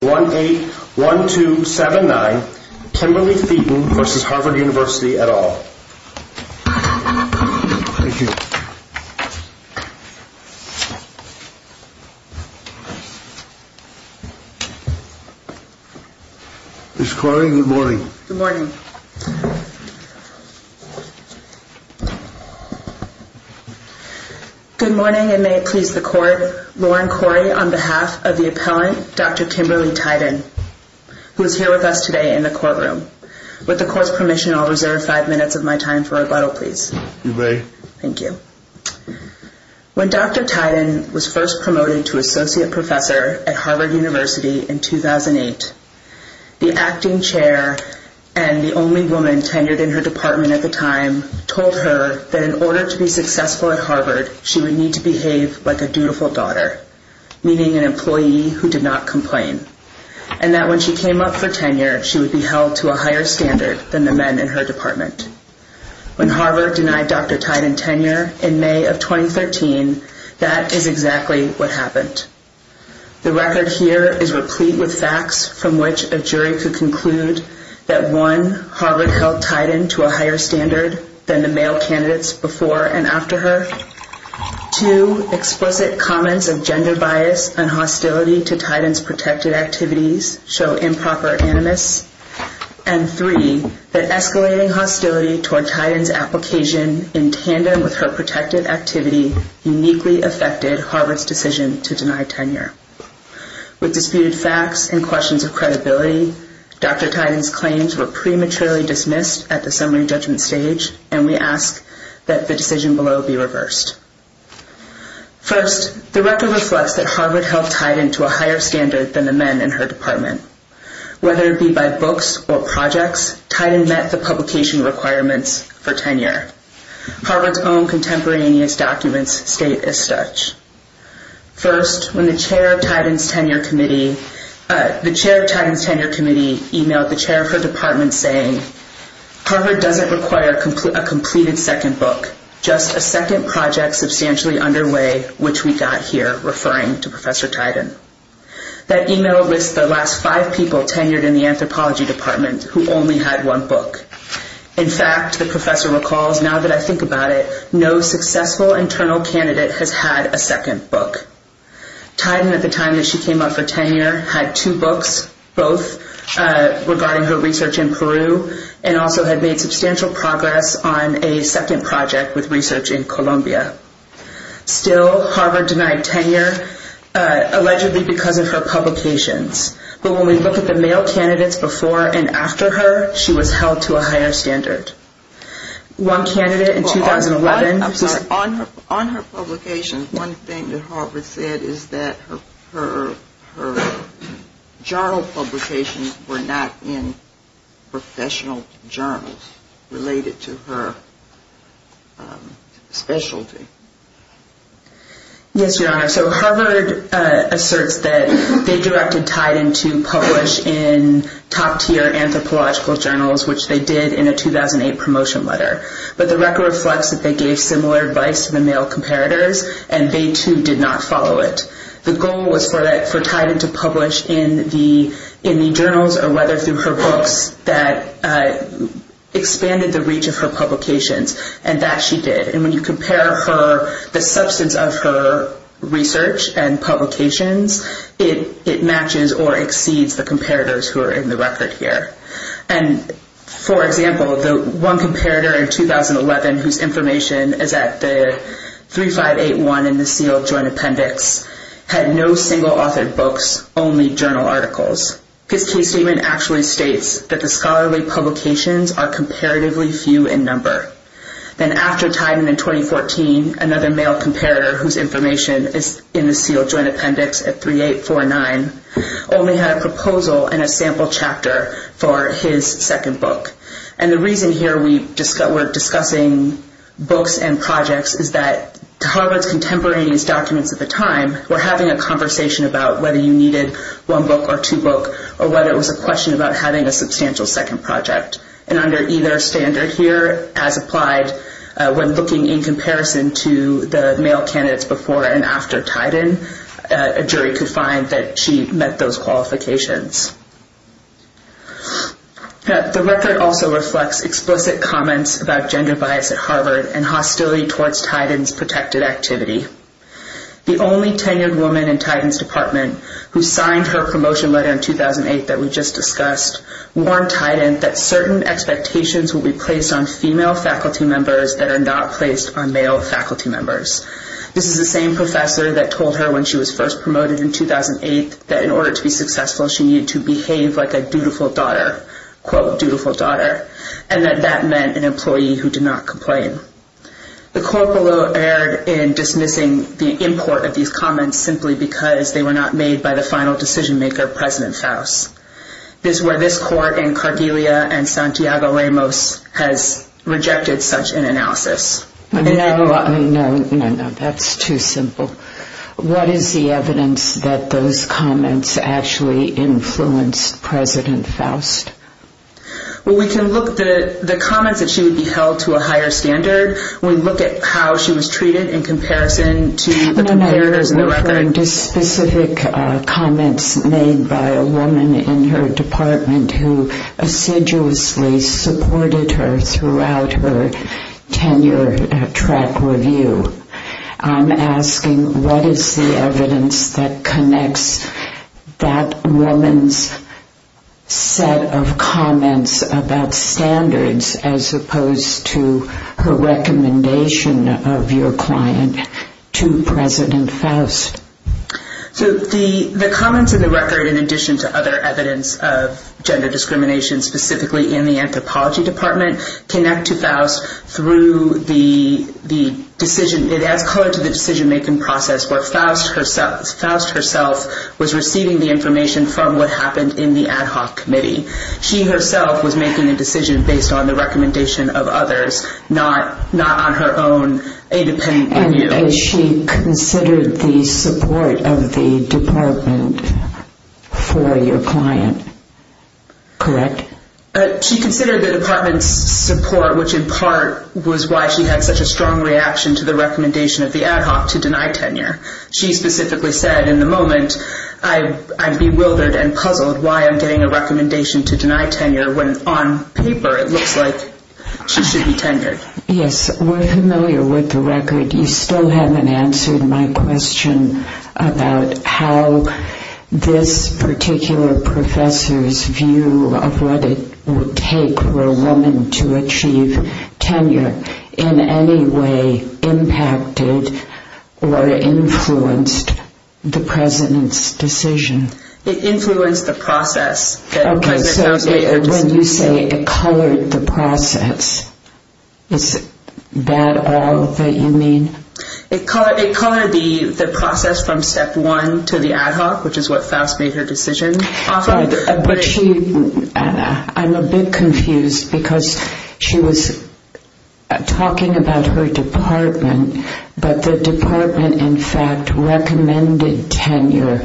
181279 Kimberly Theaton v. Harvard University, et al. Ms. Corey, good morning. Good morning. Good morning, and may it please the court, Lauren Corey on behalf of the appellant, Dr. Kimberly Theaton, who is here with us today in the courtroom. With the court's permission, I'll reserve five minutes of my time for rebuttal, please. You may. Thank you. When Dr. Theaton was first promoted to associate professor at Harvard University in 2008, the acting chair and the only woman tenured in her department at the time told her that in order to be successful at Harvard, she would need to behave like a dutiful daughter, meaning an employee who did not complain, and that when she came up for tenure, she would be held to a higher standard than the men in her department. When Harvard denied Dr. Theaton tenure in May of 2013, that is exactly what happened. The record here is replete with facts from which a jury could conclude that, one, Harvard held Theaton to a higher standard than the male candidates before and after her, two, explicit comments of gender bias and hostility to Theaton's protected activities show improper animus, and three, that escalating hostility toward Theaton's application in tandem with her protected activity uniquely affected Harvard's decision to deny tenure. With disputed facts and questions of credibility, Dr. Theaton's claims were prematurely dismissed at the summary judgment stage, and we ask that the decision below be reversed. First, the record reflects that Harvard held Theaton to a higher standard than the men in her department. Whether it be by books or projects, Theaton met the publication requirements for tenure. Harvard's own contemporaneous documents state as such. First, when the chair of Theaton's tenure committee emailed the chair of her department saying, Harvard doesn't require a completed second book, just a second project substantially underway, which we got here, referring to Professor Theaton. That email lists the last five people tenured in the anthropology department who only had one book. In fact, the professor recalls, now that I think about it, no successful internal candidate has had a second book. Theaton, at the time that she came up for tenure, had two books, both regarding her research in Peru, and also had made substantial progress on a second project with research in Colombia. Still, Harvard denied tenure, allegedly because of her publications. But when we look at the male candidates before and after her, she was held to a higher standard. One candidate in 2011... Yes, Your Honor, so Harvard asserts that they directed Theaton to publish in top-tier anthropological journals, which they did in a 2008 promotion letter. But the record reflects that they gave similar advice to the male comparators, and they too did not follow it. The goal was for Theaton to publish in the journals or whether through her books that expanded the reach of her publications, and that she did. And when you compare the substance of her research and publications, it matches or exceeds the comparators who are in the record here. And, for example, the one comparator in 2011 whose information is at the 3581 in the sealed joint appendix, had no single-authored books, only journal articles. His case statement actually states that the scholarly publications are comparatively few in number. Then after Theaton in 2014, another male comparator whose information is in the sealed joint appendix at 3849, only had a proposal and a sample chapter for his second book. And the reason here we're discussing books and projects is that Harvard's contemporaneous documents at the time were having a conversation about whether you needed one book or two books, or whether it was a question about having a substantial second project. And under either standard here, as applied when looking in comparison to the male candidates before and after Theaton, a jury could find that she met those qualifications. The record also reflects explicit comments about gender bias at Harvard and hostility towards Theaton's protected activity. The only tenured woman in Theaton's department who signed her promotion letter in 2008 that we just discussed warned Theaton that certain expectations would be placed on female faculty members that are not placed on male faculty members. This is the same professor that told her when she was first promoted in 2008 that in order to be successful, she needed to behave like a dutiful daughter, quote, dutiful daughter, and that that meant an employee who did not complain. The court below erred in dismissing the import of these comments simply because they were not made by the final decision maker, President Faust. This is where this court in Cordelia and Santiago Ramos has rejected such an analysis. No, no, no, that's too simple. What is the evidence that those comments actually influenced President Faust? Well, we can look at the comments that she would be held to a higher standard. We look at how she was treated in comparison to the competitors in the record. There are specific comments made by a woman in her department who assiduously supported her throughout her tenure track review. I'm asking what is the evidence that connects that woman's set of comments about standards as opposed to her recommendation of your client to President Faust? So the comments in the record, in addition to other evidence of gender discrimination, specifically in the anthropology department, connect to Faust through the decision. It adds color to the decision-making process where Faust herself was receiving the information from what happened in the ad hoc committee. She herself was making a decision based on the recommendation of others, not on her own independent view. And she considered the support of the department for your client, correct? She considered the department's support, which in part was why she had such a strong reaction to the recommendation of the ad hoc to deny tenure. She specifically said, in the moment, I'm bewildered and puzzled why I'm getting a recommendation to deny tenure when on paper it looks like she should be tenured. Yes, we're familiar with the record. You still haven't answered my question about how this particular professor's view of what it would take for a woman to achieve tenure in any way impacted or influenced the President's decision. It influenced the process that President Faust made her decision. Okay, so when you say it colored the process, is that all that you mean? It colored the process from step one to the ad hoc, which is what Faust made her decision. I'm a bit confused because she was talking about her department, but the department, in fact, recommended tenure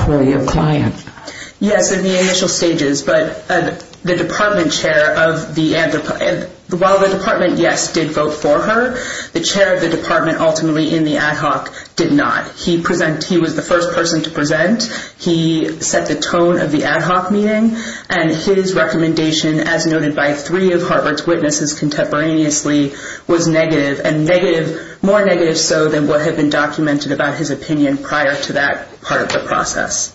for your client. Yes, in the initial stages, but the department chair of the ad hoc, while the department, yes, did vote for her, the chair of the department ultimately in the ad hoc did not. He was the first person to present. He set the tone of the ad hoc meeting, and his recommendation, as noted by three of Harvard's witnesses contemporaneously, was negative, and more negative so than what had been documented about his opinion prior to that part of the process.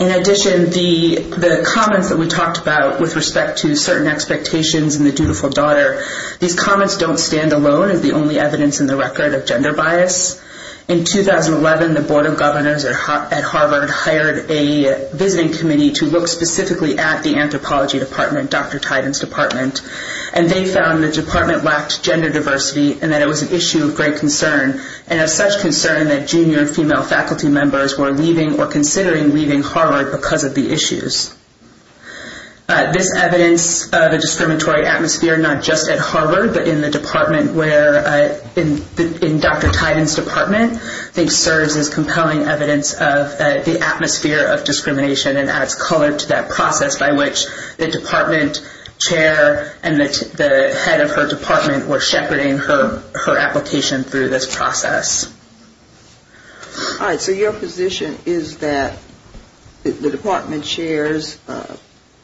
In addition, the comments that we talked about with respect to certain expectations and the dutiful daughter, these comments don't stand alone as the only evidence in the record of gender bias. In 2011, the Board of Governors at Harvard hired a visiting committee to look specifically at the anthropology department, Dr. Tiden's department, and they found the department lacked gender diversity and that it was an issue of great concern, and of such concern that junior female faculty members were leaving or considering leaving Harvard because of the issues. This evidence of a discriminatory atmosphere, not just at Harvard, but in the department where, in Dr. Tiden's department, serves as compelling evidence of the atmosphere of discrimination and adds color to that process by which the department chair and the head of her department were shepherding her application through this process. All right, so your position is that the department chair's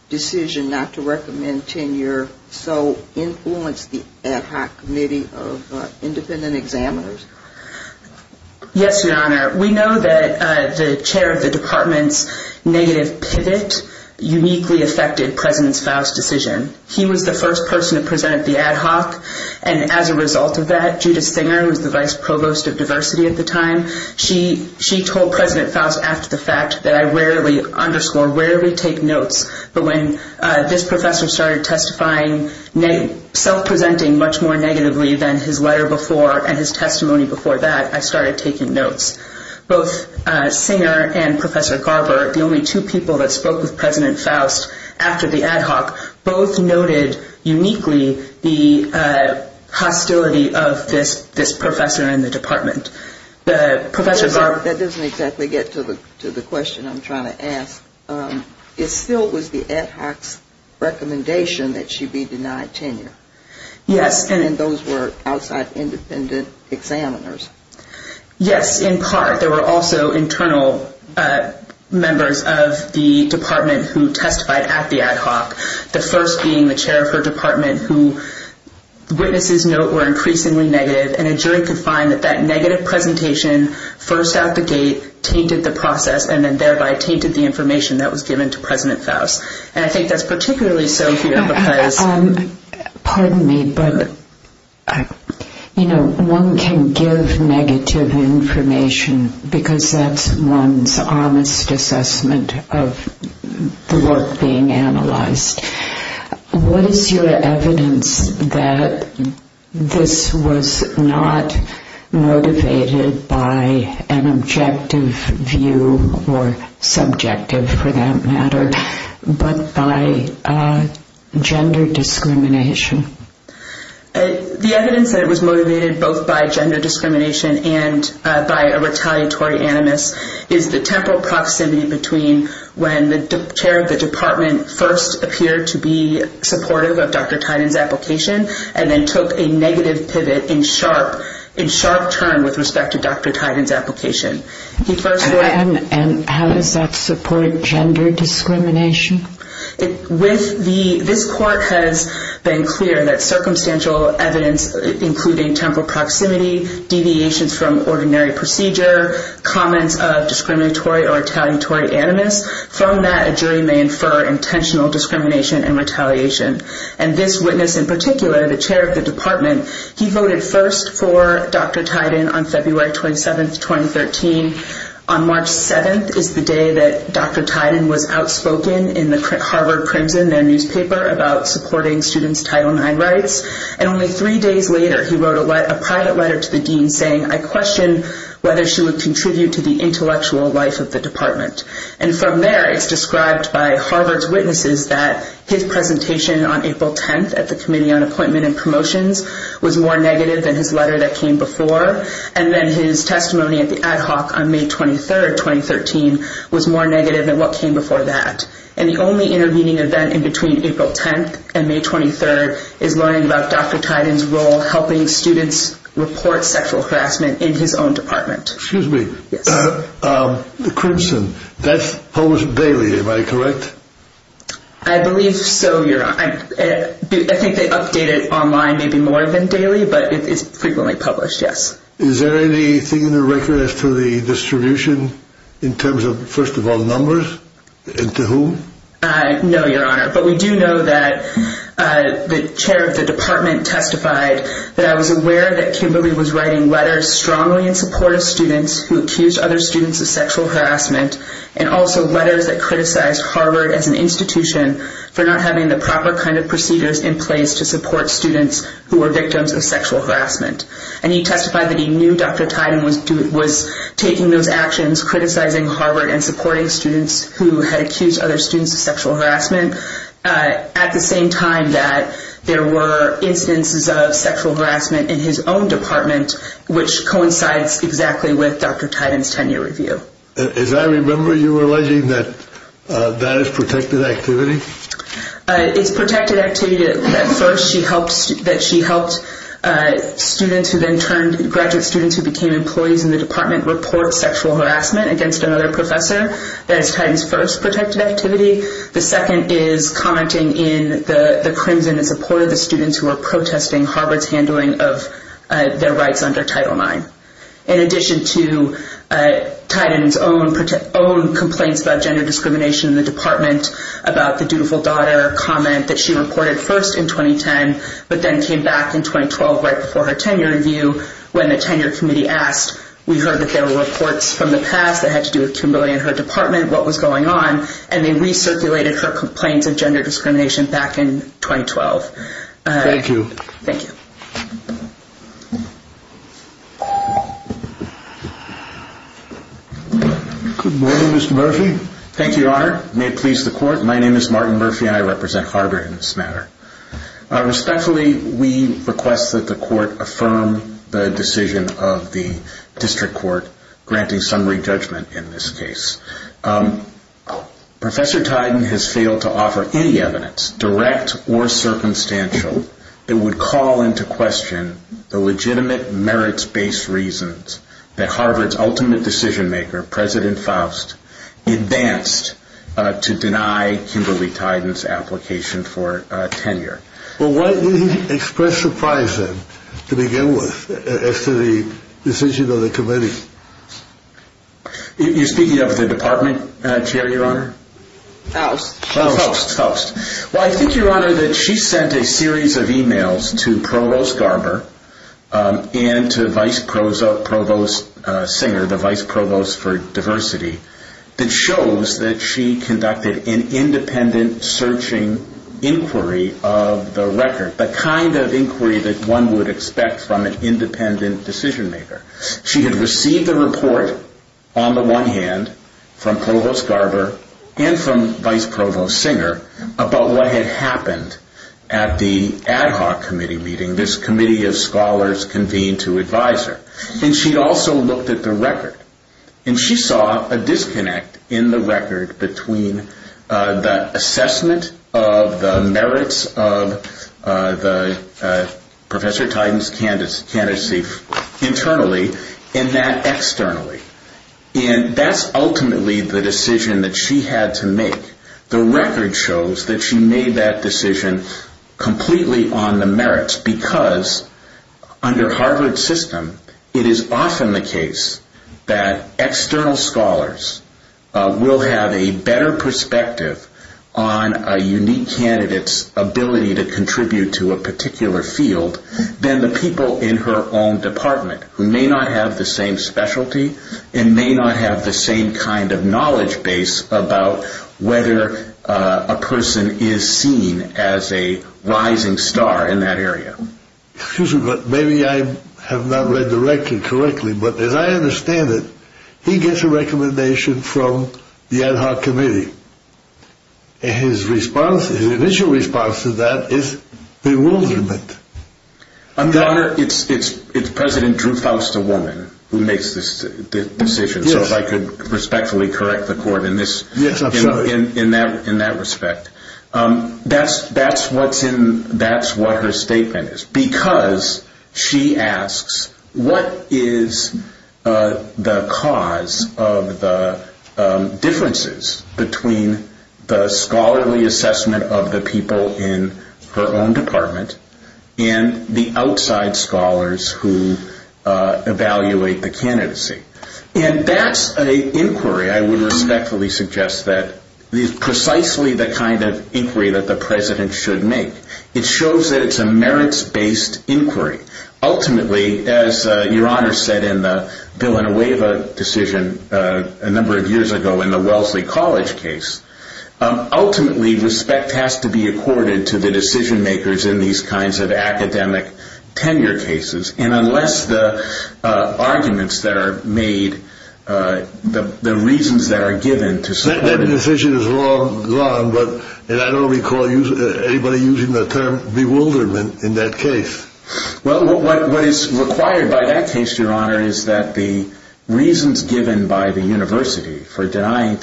decision not to recommend tenure so influenced the ad hoc committee of independent examiners? Yes, Your Honor. We know that the chair of the department's negative pivot uniquely affected President Faust's decision. He was the first person to present at the ad hoc, and as a result of that, Judith Singer, who was the vice provost of diversity at the time, she told President Faust after the fact that I rarely underscore, rarely take notes, but when this professor started testifying, self-presenting much more negatively than his letter before and his testimony before that, I started taking notes. Both Singer and Professor Garber, the only two people that spoke with President Faust after the ad hoc, That doesn't exactly get to the question I'm trying to ask. It still was the ad hoc's recommendation that she be denied tenure? Yes. And those were outside independent examiners? Yes, in part. There were also internal members of the department who testified at the ad hoc, the first being the chair of her department, who witnesses note were increasingly negative, and a jury could find that that negative presentation, first out the gate, tainted the process and then thereby tainted the information that was given to President Faust. And I think that's particularly so here because... Pardon me, but, you know, one can give negative information because that's one's honest assessment of the work being analyzed. What is your evidence that this was not motivated by an objective view, or subjective for that matter, but by gender discrimination? The evidence that it was motivated both by gender discrimination and by a retaliatory animus is the temporal proximity between when the chair of the department first appeared to be supportive of Dr. Tiden's application and then took a negative pivot in sharp turn with respect to Dr. Tiden's application. And how does that support gender discrimination? This court has been clear that circumstantial evidence, including temporal proximity, deviations from ordinary procedure, comments of discriminatory or retaliatory animus, from that a jury may infer intentional discrimination and retaliation. And this witness in particular, the chair of the department, he voted first for Dr. Tiden on February 27th, 2013. On March 7th is the day that Dr. Tiden was outspoken in the Harvard Crimson, their newspaper, about supporting students' Title IX rights. And only three days later he wrote a private letter to the dean saying, I question whether she would contribute to the intellectual life of the department. And from there it's described by Harvard's witnesses that his presentation on April 10th at the Committee on Appointment and Promotions was more negative than his letter that came before. And then his testimony at the ad hoc on May 23rd, 2013, was more negative than what came before that. And the only intervening event in between April 10th and May 23rd is learning about Dr. Tiden's role helping students report sexual harassment in his own department. Excuse me. Yes. The Crimson, that's published daily, am I correct? I believe so, Your Honor. I think they update it online maybe more than daily, but it's frequently published, yes. Is there anything in the record as to the distribution in terms of, first of all, numbers? And to whom? No, Your Honor, but we do know that the chair of the department testified that I was aware that Kimberly was writing letters strongly in support of students who accused other students of sexual harassment, and also letters that criticized Harvard as an institution for not having the proper kind of procedures in place to support students who were victims of sexual harassment. And he testified that he knew Dr. Tiden was taking those actions, criticizing Harvard and supporting students who had accused other students of sexual harassment, at the same time that there were instances of sexual harassment in his own department, which coincides exactly with Dr. Tiden's tenure review. As I remember, you were alleging that that is protected activity? It's protected activity that first she helped students who then turned graduate students who became employees in the department report sexual harassment against another professor. That is Tiden's first protected activity. The second is commenting in the crimson in support of the students who were protesting Harvard's handling of their rights under Title IX. In addition to Tiden's own complaints about gender discrimination in the department, about the dutiful daughter comment that she reported first in 2010, but then came back in 2012 right before her tenure review when the tenure committee asked. We heard that there were reports from the past that had to do with humility in her department, what was going on, and they recirculated her complaints of gender discrimination back in 2012. Thank you. Thank you. Good morning, Mr. Murphy. Thank you, Your Honor. May it please the Court. My name is Martin Murphy and I represent Harvard in this matter. Respectfully, we request that the Court affirm the decision of the district court granting summary judgment in this case. Professor Tiden has failed to offer any evidence, direct or circumstantial, that would call into question the legitimate merits-based reasons that Harvard's ultimate decision maker, President Faust, advanced to deny Kimberly Tiden's application for tenure. Well, why didn't he express surprise then to begin with after the decision of the committee? You're speaking of the department chair, Your Honor? Faust. Faust. Well, I think, Your Honor, that she sent a series of e-mails to Provost Garber and to Vice Provost Singer, the vice provost for diversity, that shows that she conducted an independent searching inquiry of the record, the kind of inquiry that one would expect from an independent decision maker. She had received a report, on the one hand, from Provost Garber and from Vice Provost Singer, about what had happened at the ad hoc committee meeting. This committee of scholars convened to advise her. And she also looked at the record. And she saw a disconnect in the record between the assessment of the merits of Professor Tiden's candidacy internally and that externally. And that's ultimately the decision that she had to make. The record shows that she made that decision completely on the merits because under Harvard's system, it is often the case that external scholars will have a better perspective on a unique candidate's ability to contribute to a particular field than the people in her own department, who may not have the same specialty and may not have the same kind of knowledge base about whether a person is seen as a rising star in that area. Excuse me, but maybe I have not read the record correctly, but as I understand it, he gets a recommendation from the ad hoc committee. His initial response to that is bewilderment. Your Honor, it's President Drew Faust, a woman, who makes this decision. So if I could respectfully correct the court in that respect. That's what her statement is because she asks, what is the cause of the differences between the scholarly assessment of the people in her own department and the outside scholars who evaluate the candidacy? And that's an inquiry, I would respectfully suggest, that is precisely the kind of inquiry that the President should make. It shows that it's a merits-based inquiry. Ultimately, as Your Honor said in the Villanueva decision a number of years ago in the Wellesley College case, ultimately respect has to be accorded to the decision makers in these kinds of academic tenure cases. And unless the arguments that are made, the reasons that are given to support... That decision is long gone, but I don't recall anybody using the term bewilderment in that case. Well, what is required by that case, Your Honor, is that the reasons given by the university for denying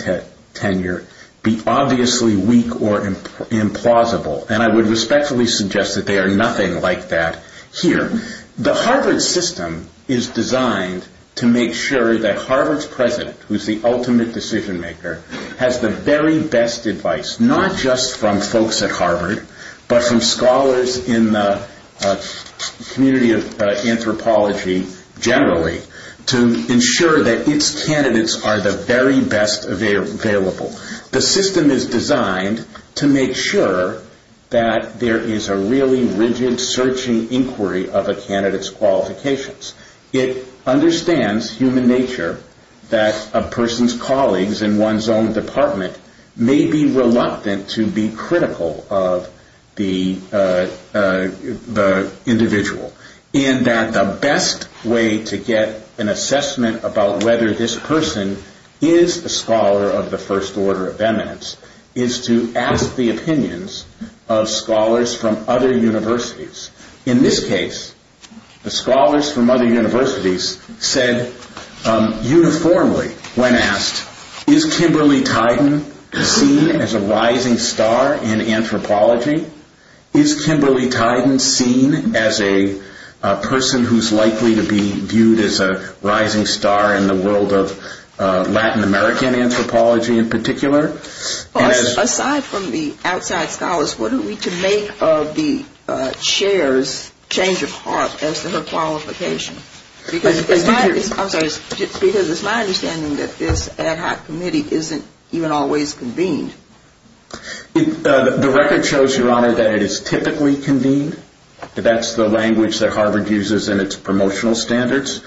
tenure be obviously weak or implausible. And I would respectfully suggest that they are nothing like that here. The Harvard system is designed to make sure that Harvard's president, who is the ultimate decision maker, has the very best advice, not just from folks at Harvard, but from scholars in the community of anthropology generally, to ensure that its candidates are the very best available. The system is designed to make sure that there is a really rigid, searching inquiry of a candidate's qualifications. It understands human nature that a person's colleagues in one's own department may be reluctant to be critical of the individual, in that the best way to get an assessment about whether this person is a scholar of the first order of eminence is to ask the opinions of scholars from other universities. In this case, the scholars from other universities said uniformly when asked, is Kimberly Tyden seen as a rising star in anthropology? Is Kimberly Tyden seen as a person who is likely to be viewed as a rising star in the world of Latin American anthropology in particular? Aside from the outside scholars, what are we to make of the chair's change of heart as to her qualification? Because it's my understanding that this ad hoc committee isn't even always convened. The record shows, Your Honor, that it is typically convened. That's the language that Harvard uses in its promotional standards.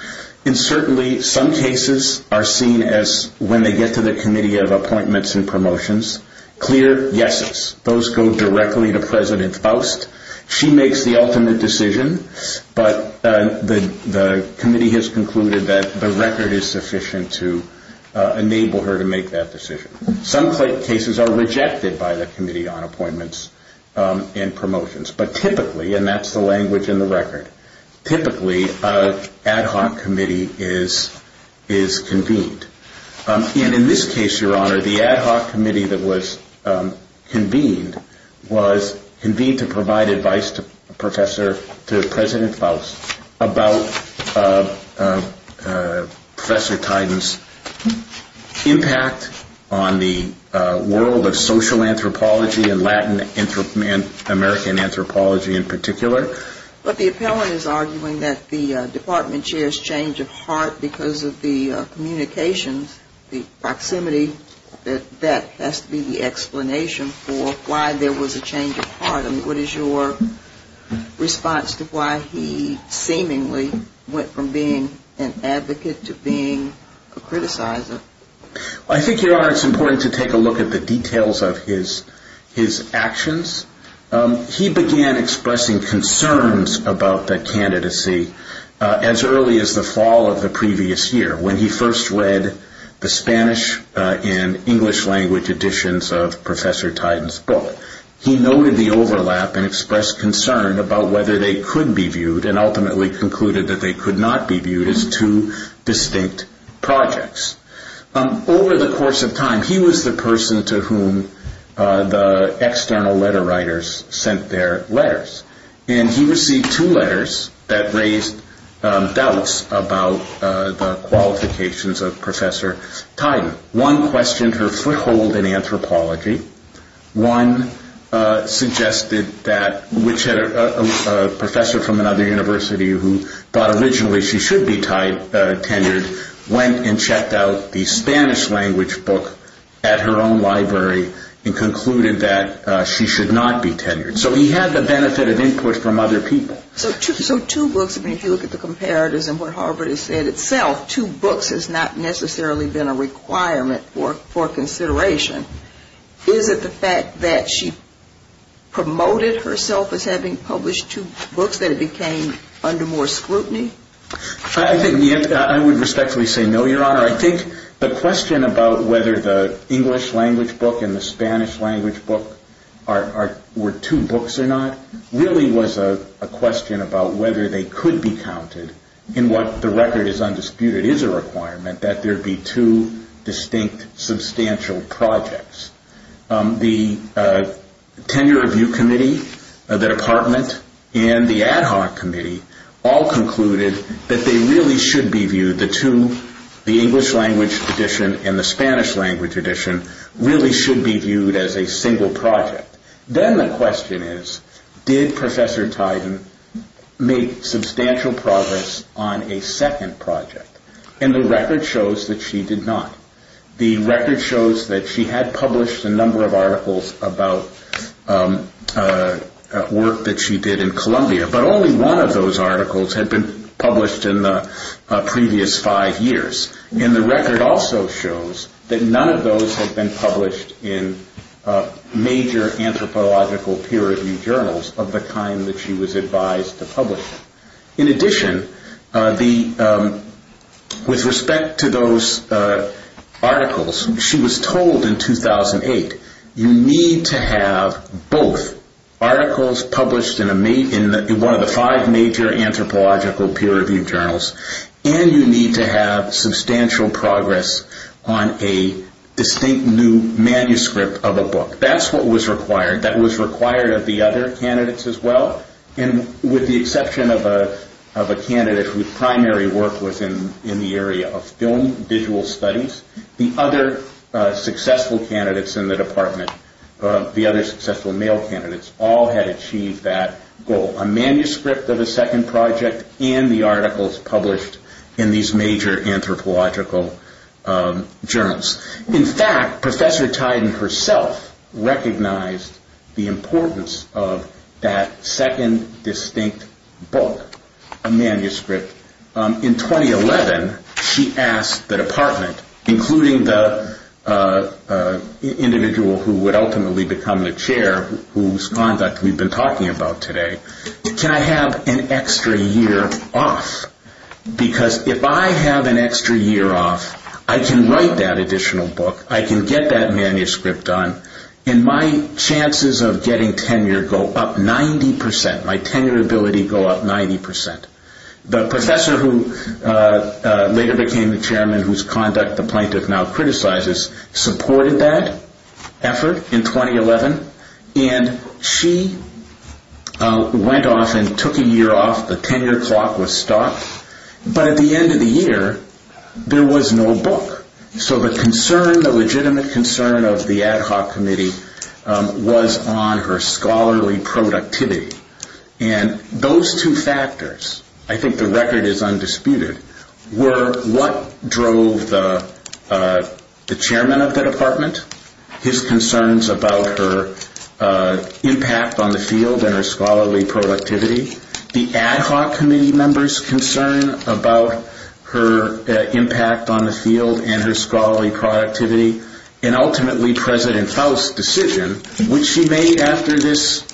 And certainly some cases are seen as, when they get to the Committee of Appointments and Promotions, clear yeses. Those go directly to President Faust. She makes the ultimate decision, but the committee has concluded that the record is sufficient to enable her to make that decision. Some cases are rejected by the Committee on Appointments and Promotions. But typically, and that's the language in the record, typically an ad hoc committee is convened. And in this case, Your Honor, the ad hoc committee that was convened was convened to provide advice to President Faust about Professor Tyden's impact on the world of social anthropology and Latin American anthropology in particular. But the appellant is arguing that the department chair's change of heart because of the communications, the proximity, that that has to be the explanation for why there was a change of heart. What is your response to why he seemingly went from being an advocate to being a criticizer? I think, Your Honor, it's important to take a look at the details of his actions. He began expressing concerns about the candidacy as early as the fall of the previous year when he first read the Spanish and English language editions of Professor Tyden's book. He noted the overlap and expressed concern about whether they could be viewed and ultimately concluded that they could not be viewed as two distinct projects. Over the course of time, he was the person to whom the external letter writers sent their letters. And he received two letters that raised doubts about the qualifications of Professor Tyden. One questioned her foothold in anthropology. One suggested that a professor from another university who thought originally she should be tenured went and checked out the Spanish language book at her own library and concluded that she should not be tenured. So he had the benefit of input from other people. So two books, I mean, if you look at the comparatives and what Harvard has said itself, two books has not necessarily been a requirement for consideration. Is it the fact that she promoted herself as having published two books that it became under more scrutiny? I would respectfully say no, Your Honor. I think the question about whether the English language book and the Spanish language book were two books or not really was a question about whether they could be counted in what the record is undisputed is a requirement that there be two distinct substantial projects. The tenure review committee, the department, and the ad hoc committee all concluded that they really should be viewed, the two, the English language edition and the Spanish language edition, really should be viewed as a single project. Then the question is, did Professor Tyden make substantial progress on a second project? And the record shows that she did not. The record shows that she had published a number of articles about work that she did in Columbia, but only one of those articles had been published in the previous five years. And the record also shows that none of those had been published in major anthropological peer-reviewed journals of the kind that she was advised to publish. In addition, with respect to those articles, she was told in 2008, you need to have both articles published in one of the five major anthropological peer-reviewed journals and you need to have substantial progress on a distinct new manuscript of a book. That's what was required. That was required of the other candidates as well. And with the exception of a candidate whose primary work was in the area of film, visual studies, the other successful candidates in the department, the other successful male candidates, all had achieved that goal. A manuscript of a second project and the articles published in these major anthropological journals. In fact, Professor Tiden herself recognized the importance of that second distinct book, a manuscript. In 2011, she asked the department, including the individual who would ultimately become the chair, whose conduct we've been talking about today, can I have an extra year off? Because if I have an extra year off, I can write that additional book. I can get that manuscript done. And my chances of getting tenure go up 90 percent. My tenure ability go up 90 percent. The professor who later became the chairman, whose conduct the plaintiff now criticizes, supported that effort in 2011. And she went off and took a year off. The tenure clock was stopped. But at the end of the year, there was no book. So the concern, the legitimate concern of the ad hoc committee was on her scholarly productivity. And those two factors, I think the record is undisputed, were what drove the chairman of the department, his concerns about her impact on the field and her scholarly productivity, the ad hoc committee members' concern about her impact on the field and her scholarly productivity, and ultimately President Faust's decision, which she made after this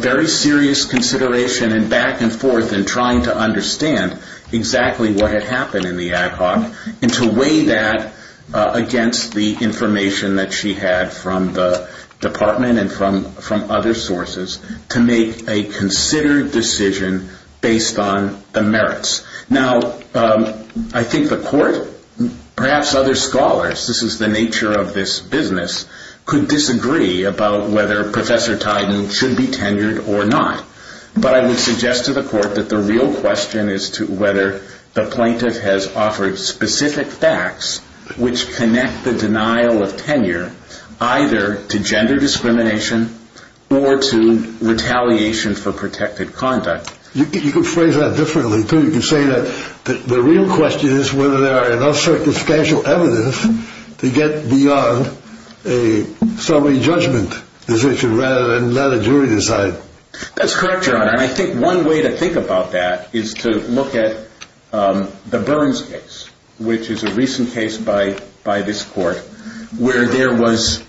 very serious consideration and back and forth and trying to understand exactly what had happened in the ad hoc and to weigh that against the information that she had from the department and from other sources to make a considered decision based on the merits. Now, I think the court, perhaps other scholars, this is the nature of this business, could disagree about whether Professor Tiden should be tenured or not. But I would suggest to the court that the real question is whether the plaintiff has offered specific facts which connect the denial of tenure either to gender discrimination or to retaliation for protected conduct. You could phrase that differently, too. You could say that the real question is whether there are enough circumstantial evidence to get beyond a summary judgment decision rather than let a jury decide. That's correct, Your Honor. And I think one way to think about that is to look at the Burns case, which is a recent case by this court where there was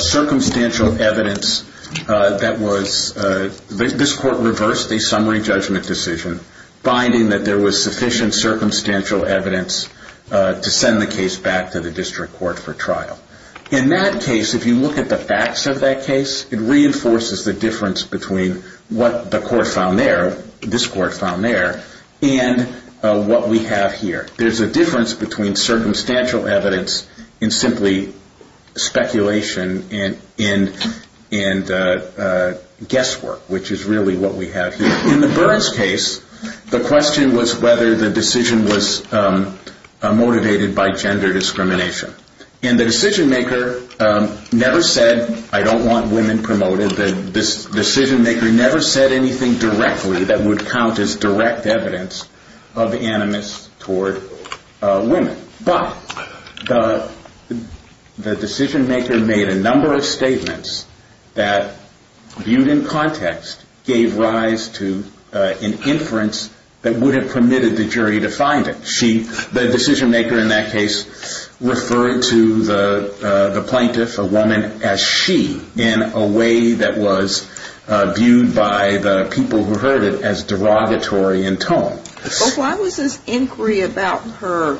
circumstantial evidence that was – this court reversed a summary judgment decision, finding that there was sufficient circumstantial evidence to send the case back to the district court for trial. In that case, if you look at the facts of that case, it reinforces the difference between what the court found there, this court found there, and what we have here. There's a difference between circumstantial evidence and simply speculation and guesswork, which is really what we have here. In the Burns case, the question was whether the decision was motivated by gender discrimination. And the decision-maker never said, I don't want women promoted, the decision-maker never said anything directly that would count as direct evidence of animus toward women. But the decision-maker made a number of statements that, viewed in context, gave rise to an inference that would have permitted the jury to find it. The decision-maker in that case referred to the plaintiff, a woman, as she, in a way that was viewed by the people who heard it as derogatory in tone. But why was this inquiry about her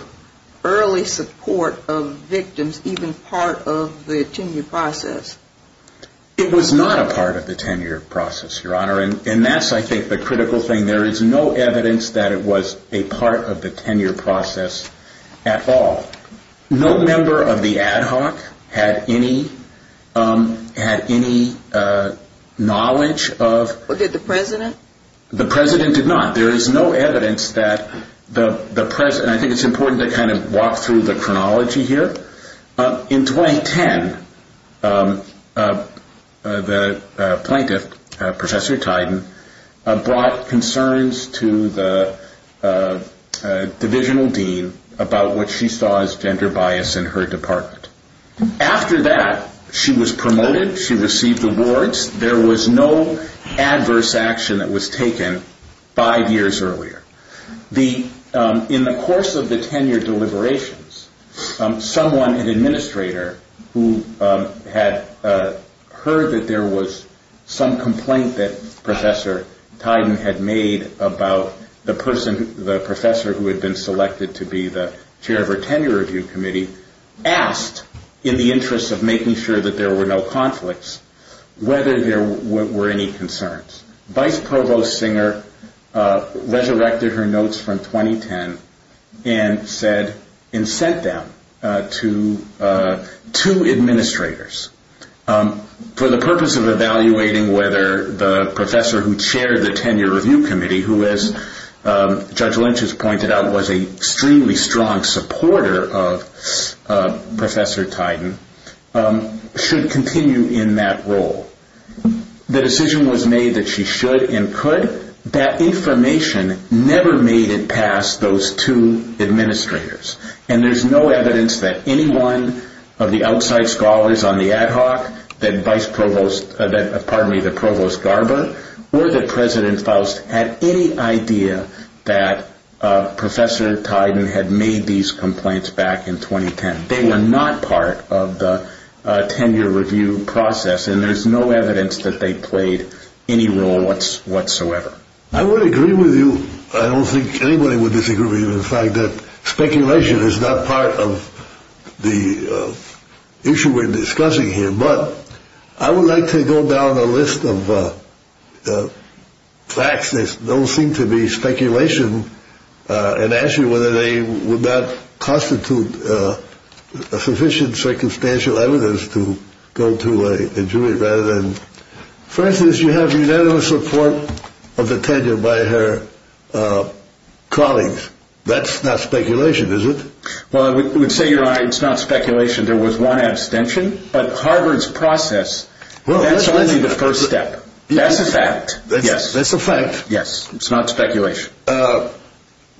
early support of victims even part of the tenure process? It was not a part of the tenure process, Your Honor, and that's, I think, the critical thing. There is no evidence that it was a part of the tenure process at all. No member of the ad hoc had any knowledge of- Did the president? The president did not. There is no evidence that the president- I think it's important to kind of walk through the chronology here. In 2010, the plaintiff, Professor Tiden, brought concerns to the divisional dean about what she saw as gender bias in her department. After that, she was promoted. She received awards. There was no adverse action that was taken five years earlier. In the course of the tenure deliberations, someone, an administrator, who had heard that there was some complaint that Professor Tiden had made about the person, the professor who had been selected to be the chair of her tenure review committee, asked, in the interest of making sure that there were no conflicts, whether there were any concerns. Vice Provost Singer resurrected her notes from 2010 and sent them to two administrators for the purpose of evaluating whether the professor who chaired the tenure review committee, who, as Judge Lynch has pointed out, was an extremely strong supporter of Professor Tiden, should continue in that role. The decision was made that she should and could. That information never made it past those two administrators. And there's no evidence that any one of the outside scholars on the ad hoc, that Vice Provost- pardon me, that Provost Garber, or that President Faust, had any idea that Professor Tiden had made these complaints back in 2010. They were not part of the tenure review process. And there's no evidence that they played any role whatsoever. I would agree with you. I don't think anybody would disagree with you in the fact that speculation is not part of the issue we're discussing here. But I would like to go down the list of facts that don't seem to be speculation and ask you whether they would not constitute sufficient circumstantial evidence to go to a jury rather than- For instance, you have unanimous support of the tenure by her colleagues. That's not speculation, is it? Well, I would say, Your Honor, it's not speculation. There was one abstention. But Harvard's process, that's only the first step. That's a fact. That's a fact. Yes, it's not speculation.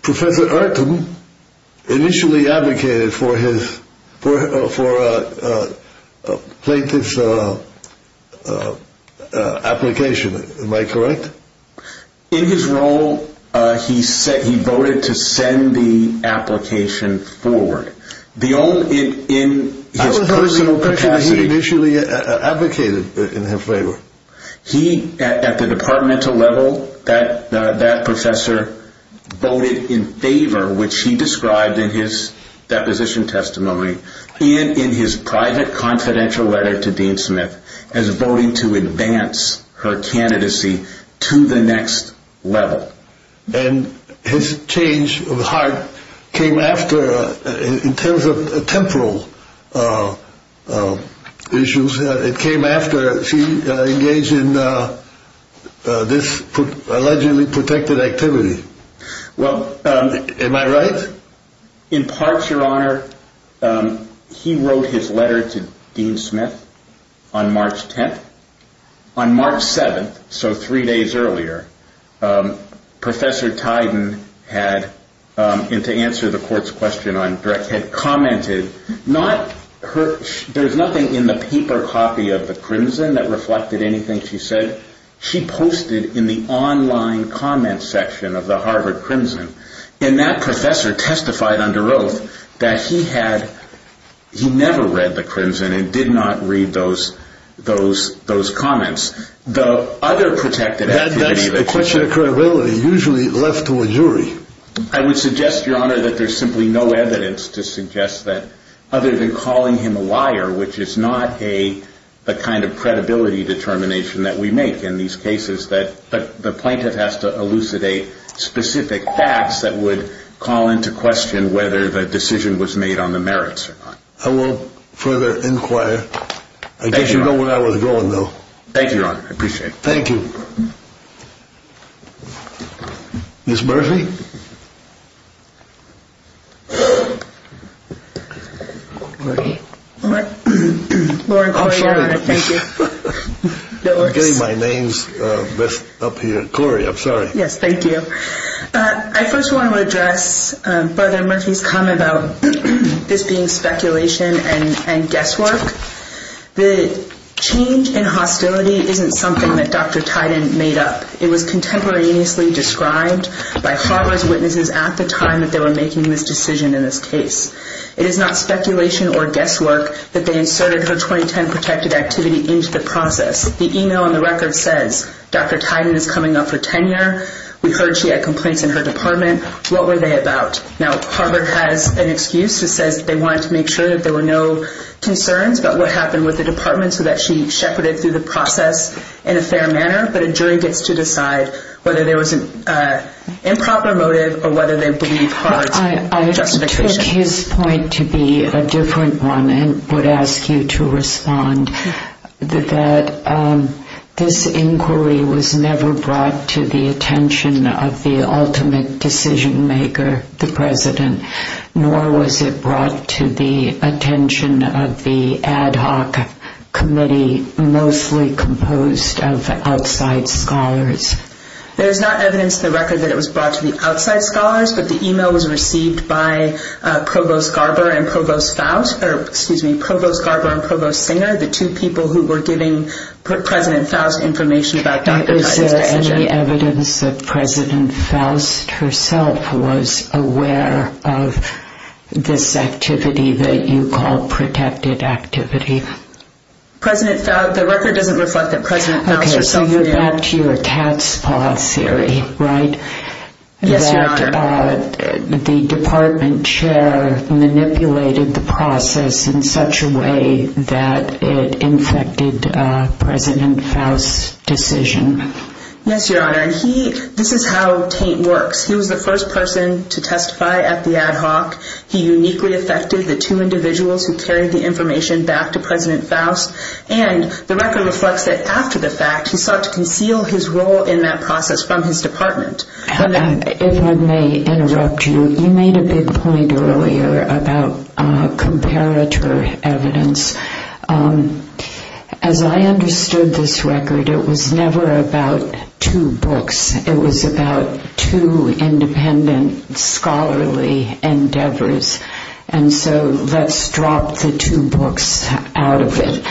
Professor Ayrton initially advocated for his plaintiff's application. Am I correct? In his role, he voted to send the application forward. The only- in his personal capacity- I was asking the question, he initially advocated in his favor. He, at the departmental level, that professor, voted in favor, which he described in his deposition testimony and in his private confidential letter to Dean Smith as voting to advance her candidacy to the next level. And his change of heart came after, in terms of temporal issues, it came after she engaged in this allegedly protected activity. Well- Am I right? In part, Your Honor, he wrote his letter to Dean Smith on March 10th. On March 7th, so three days earlier, Professor Tiden had, and to answer the court's question on Dreck, not her- there's nothing in the paper copy of the Crimson that reflected anything she said. She posted in the online comment section of the Harvard Crimson, and that professor testified under oath that he had- he never read the Crimson and did not read those comments. The other protected activity- That's a question of credibility, usually left to a jury. I would suggest, Your Honor, that there's simply no evidence to suggest that, other than calling him a liar, which is not a- the kind of credibility determination that we make in these cases, that the plaintiff has to elucidate specific facts that would call into question whether the decision was made on the merits or not. I will further inquire. Thank you, Your Honor. I guess you know where I was going, though. Thank you, Your Honor. I appreciate it. Thank you. Ms. Murphy? Lori. Lori Correa. I'm sorry. Thank you. I'm getting my name's mess up here. Cory, I'm sorry. Yes, thank you. I first want to address Brother Murphy's comment about this being speculation and guesswork. The change in hostility isn't something that Dr. Tiden made up. It was contemporaneously described by Harvard's witnesses at the time that they were making this decision in this case. It is not speculation or guesswork that they inserted her 2010 protected activity into the process. The email on the record says, Dr. Tiden is coming up for tenure. We heard she had complaints in her department. What were they about? Now, Harvard has an excuse that says they wanted to make sure that there were no concerns about what happened with the department so that she shepherded through the process in a fair manner, but a jury gets to decide whether there was an improper motive or whether they believe Harvard's justification. I took his point to be a different one and would ask you to respond. This inquiry was never brought to the attention of the ultimate decision maker, the president, nor was it brought to the attention of the ad hoc committee mostly composed of outside scholars. There's not evidence in the record that it was brought to the outside scholars, but the email was received by Provost Garber and Provost Singer, the two people who were giving President Faust information about Dr. Tiden's decision. Is there any evidence that President Faust herself was aware of this activity that you call protected activity? The record doesn't reflect that President Faust herself was aware of it. That's your cat's paw theory, right? Yes, Your Honor. That the department chair manipulated the process in such a way that it infected President Faust's decision. Yes, Your Honor, and this is how Tate works. He was the first person to testify at the ad hoc. He uniquely affected the two individuals who carried the information back to President Faust, and the record reflects that after the fact, he sought to conceal his role in that process from his department. If I may interrupt you, you made a big point earlier about comparator evidence. As I understood this record, it was never about two books. It was about two independent scholarly endeavors, and so let's drop the two books out of it.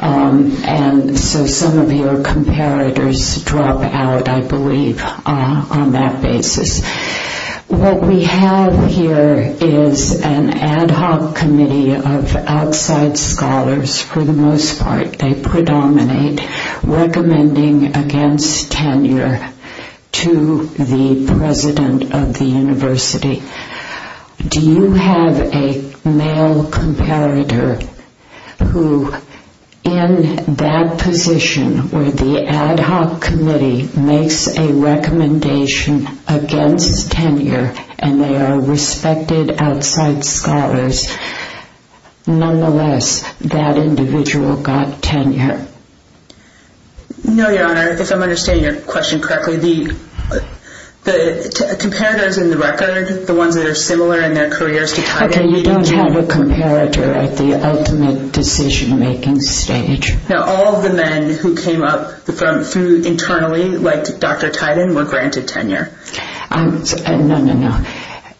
And so some of your comparators drop out, I believe, on that basis. What we have here is an ad hoc committee of outside scholars, for the most part. They predominate recommending against tenure to the president of the university. Do you have a male comparator who, in that position where the ad hoc committee makes a recommendation against tenure, and they are respected outside scholars, nonetheless, that individual got tenure? No, Your Honor, if I'm understanding your question correctly, the comparators in the record, the ones that are similar in their careers to Titan, Okay, you don't have a comparator at the ultimate decision-making stage. Now, all of the men who came up internally, like Dr. Titan, were granted tenure. No, no, no.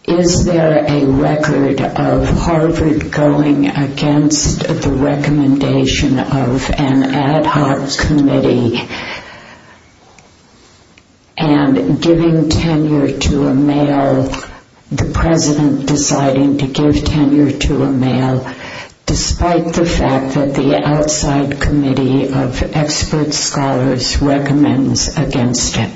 Is there a record of Harvard going against the recommendation of an ad hoc committee and giving tenure to a male, the president deciding to give tenure to a male, despite the fact that the outside committee of expert scholars recommends against it?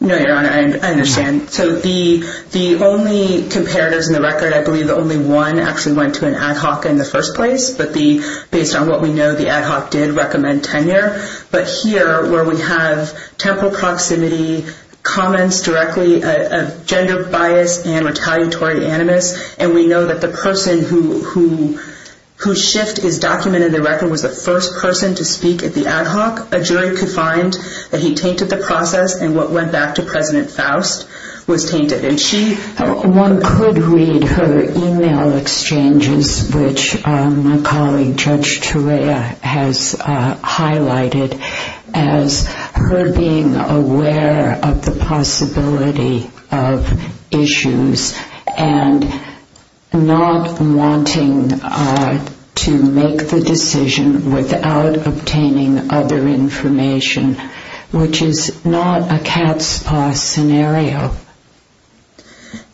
No, Your Honor, I understand. So the only comparators in the record, I believe only one actually went to an ad hoc in the first place, but based on what we know, the ad hoc did recommend tenure. But here, where we have temporal proximity, comments directly of gender bias and retaliatory animus, and we know that the person whose shift is documented in the record was the first person to speak at the ad hoc, a jury could find that he tainted the process, and what went back to President Faust was tainted. One could read her email exchanges, which my colleague Judge Turea has highlighted, as her being aware of the possibility of issues and not wanting to make the decision without obtaining other information, which is not a cat's paw scenario.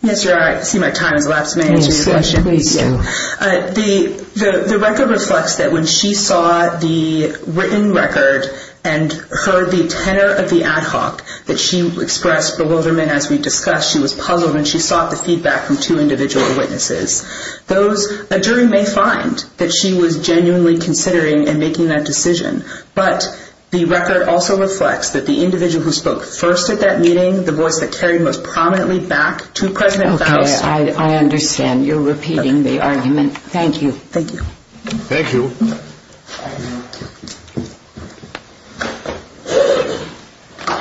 Yes, Your Honor, I see my time has elapsed. May I answer your question? Yes, please do. The record reflects that when she saw the written record and heard the tenure of the ad hoc that she expressed bewilderment as we discussed, she was puzzled, and she sought the feedback from two individual witnesses. A jury may find that she was genuinely considering and making that decision, but the record also reflects that the individual who spoke first at that meeting, the voice that carried most prominently back to President Faust Okay, I understand. You're repeating the argument. Thank you. Thank you. Thank you.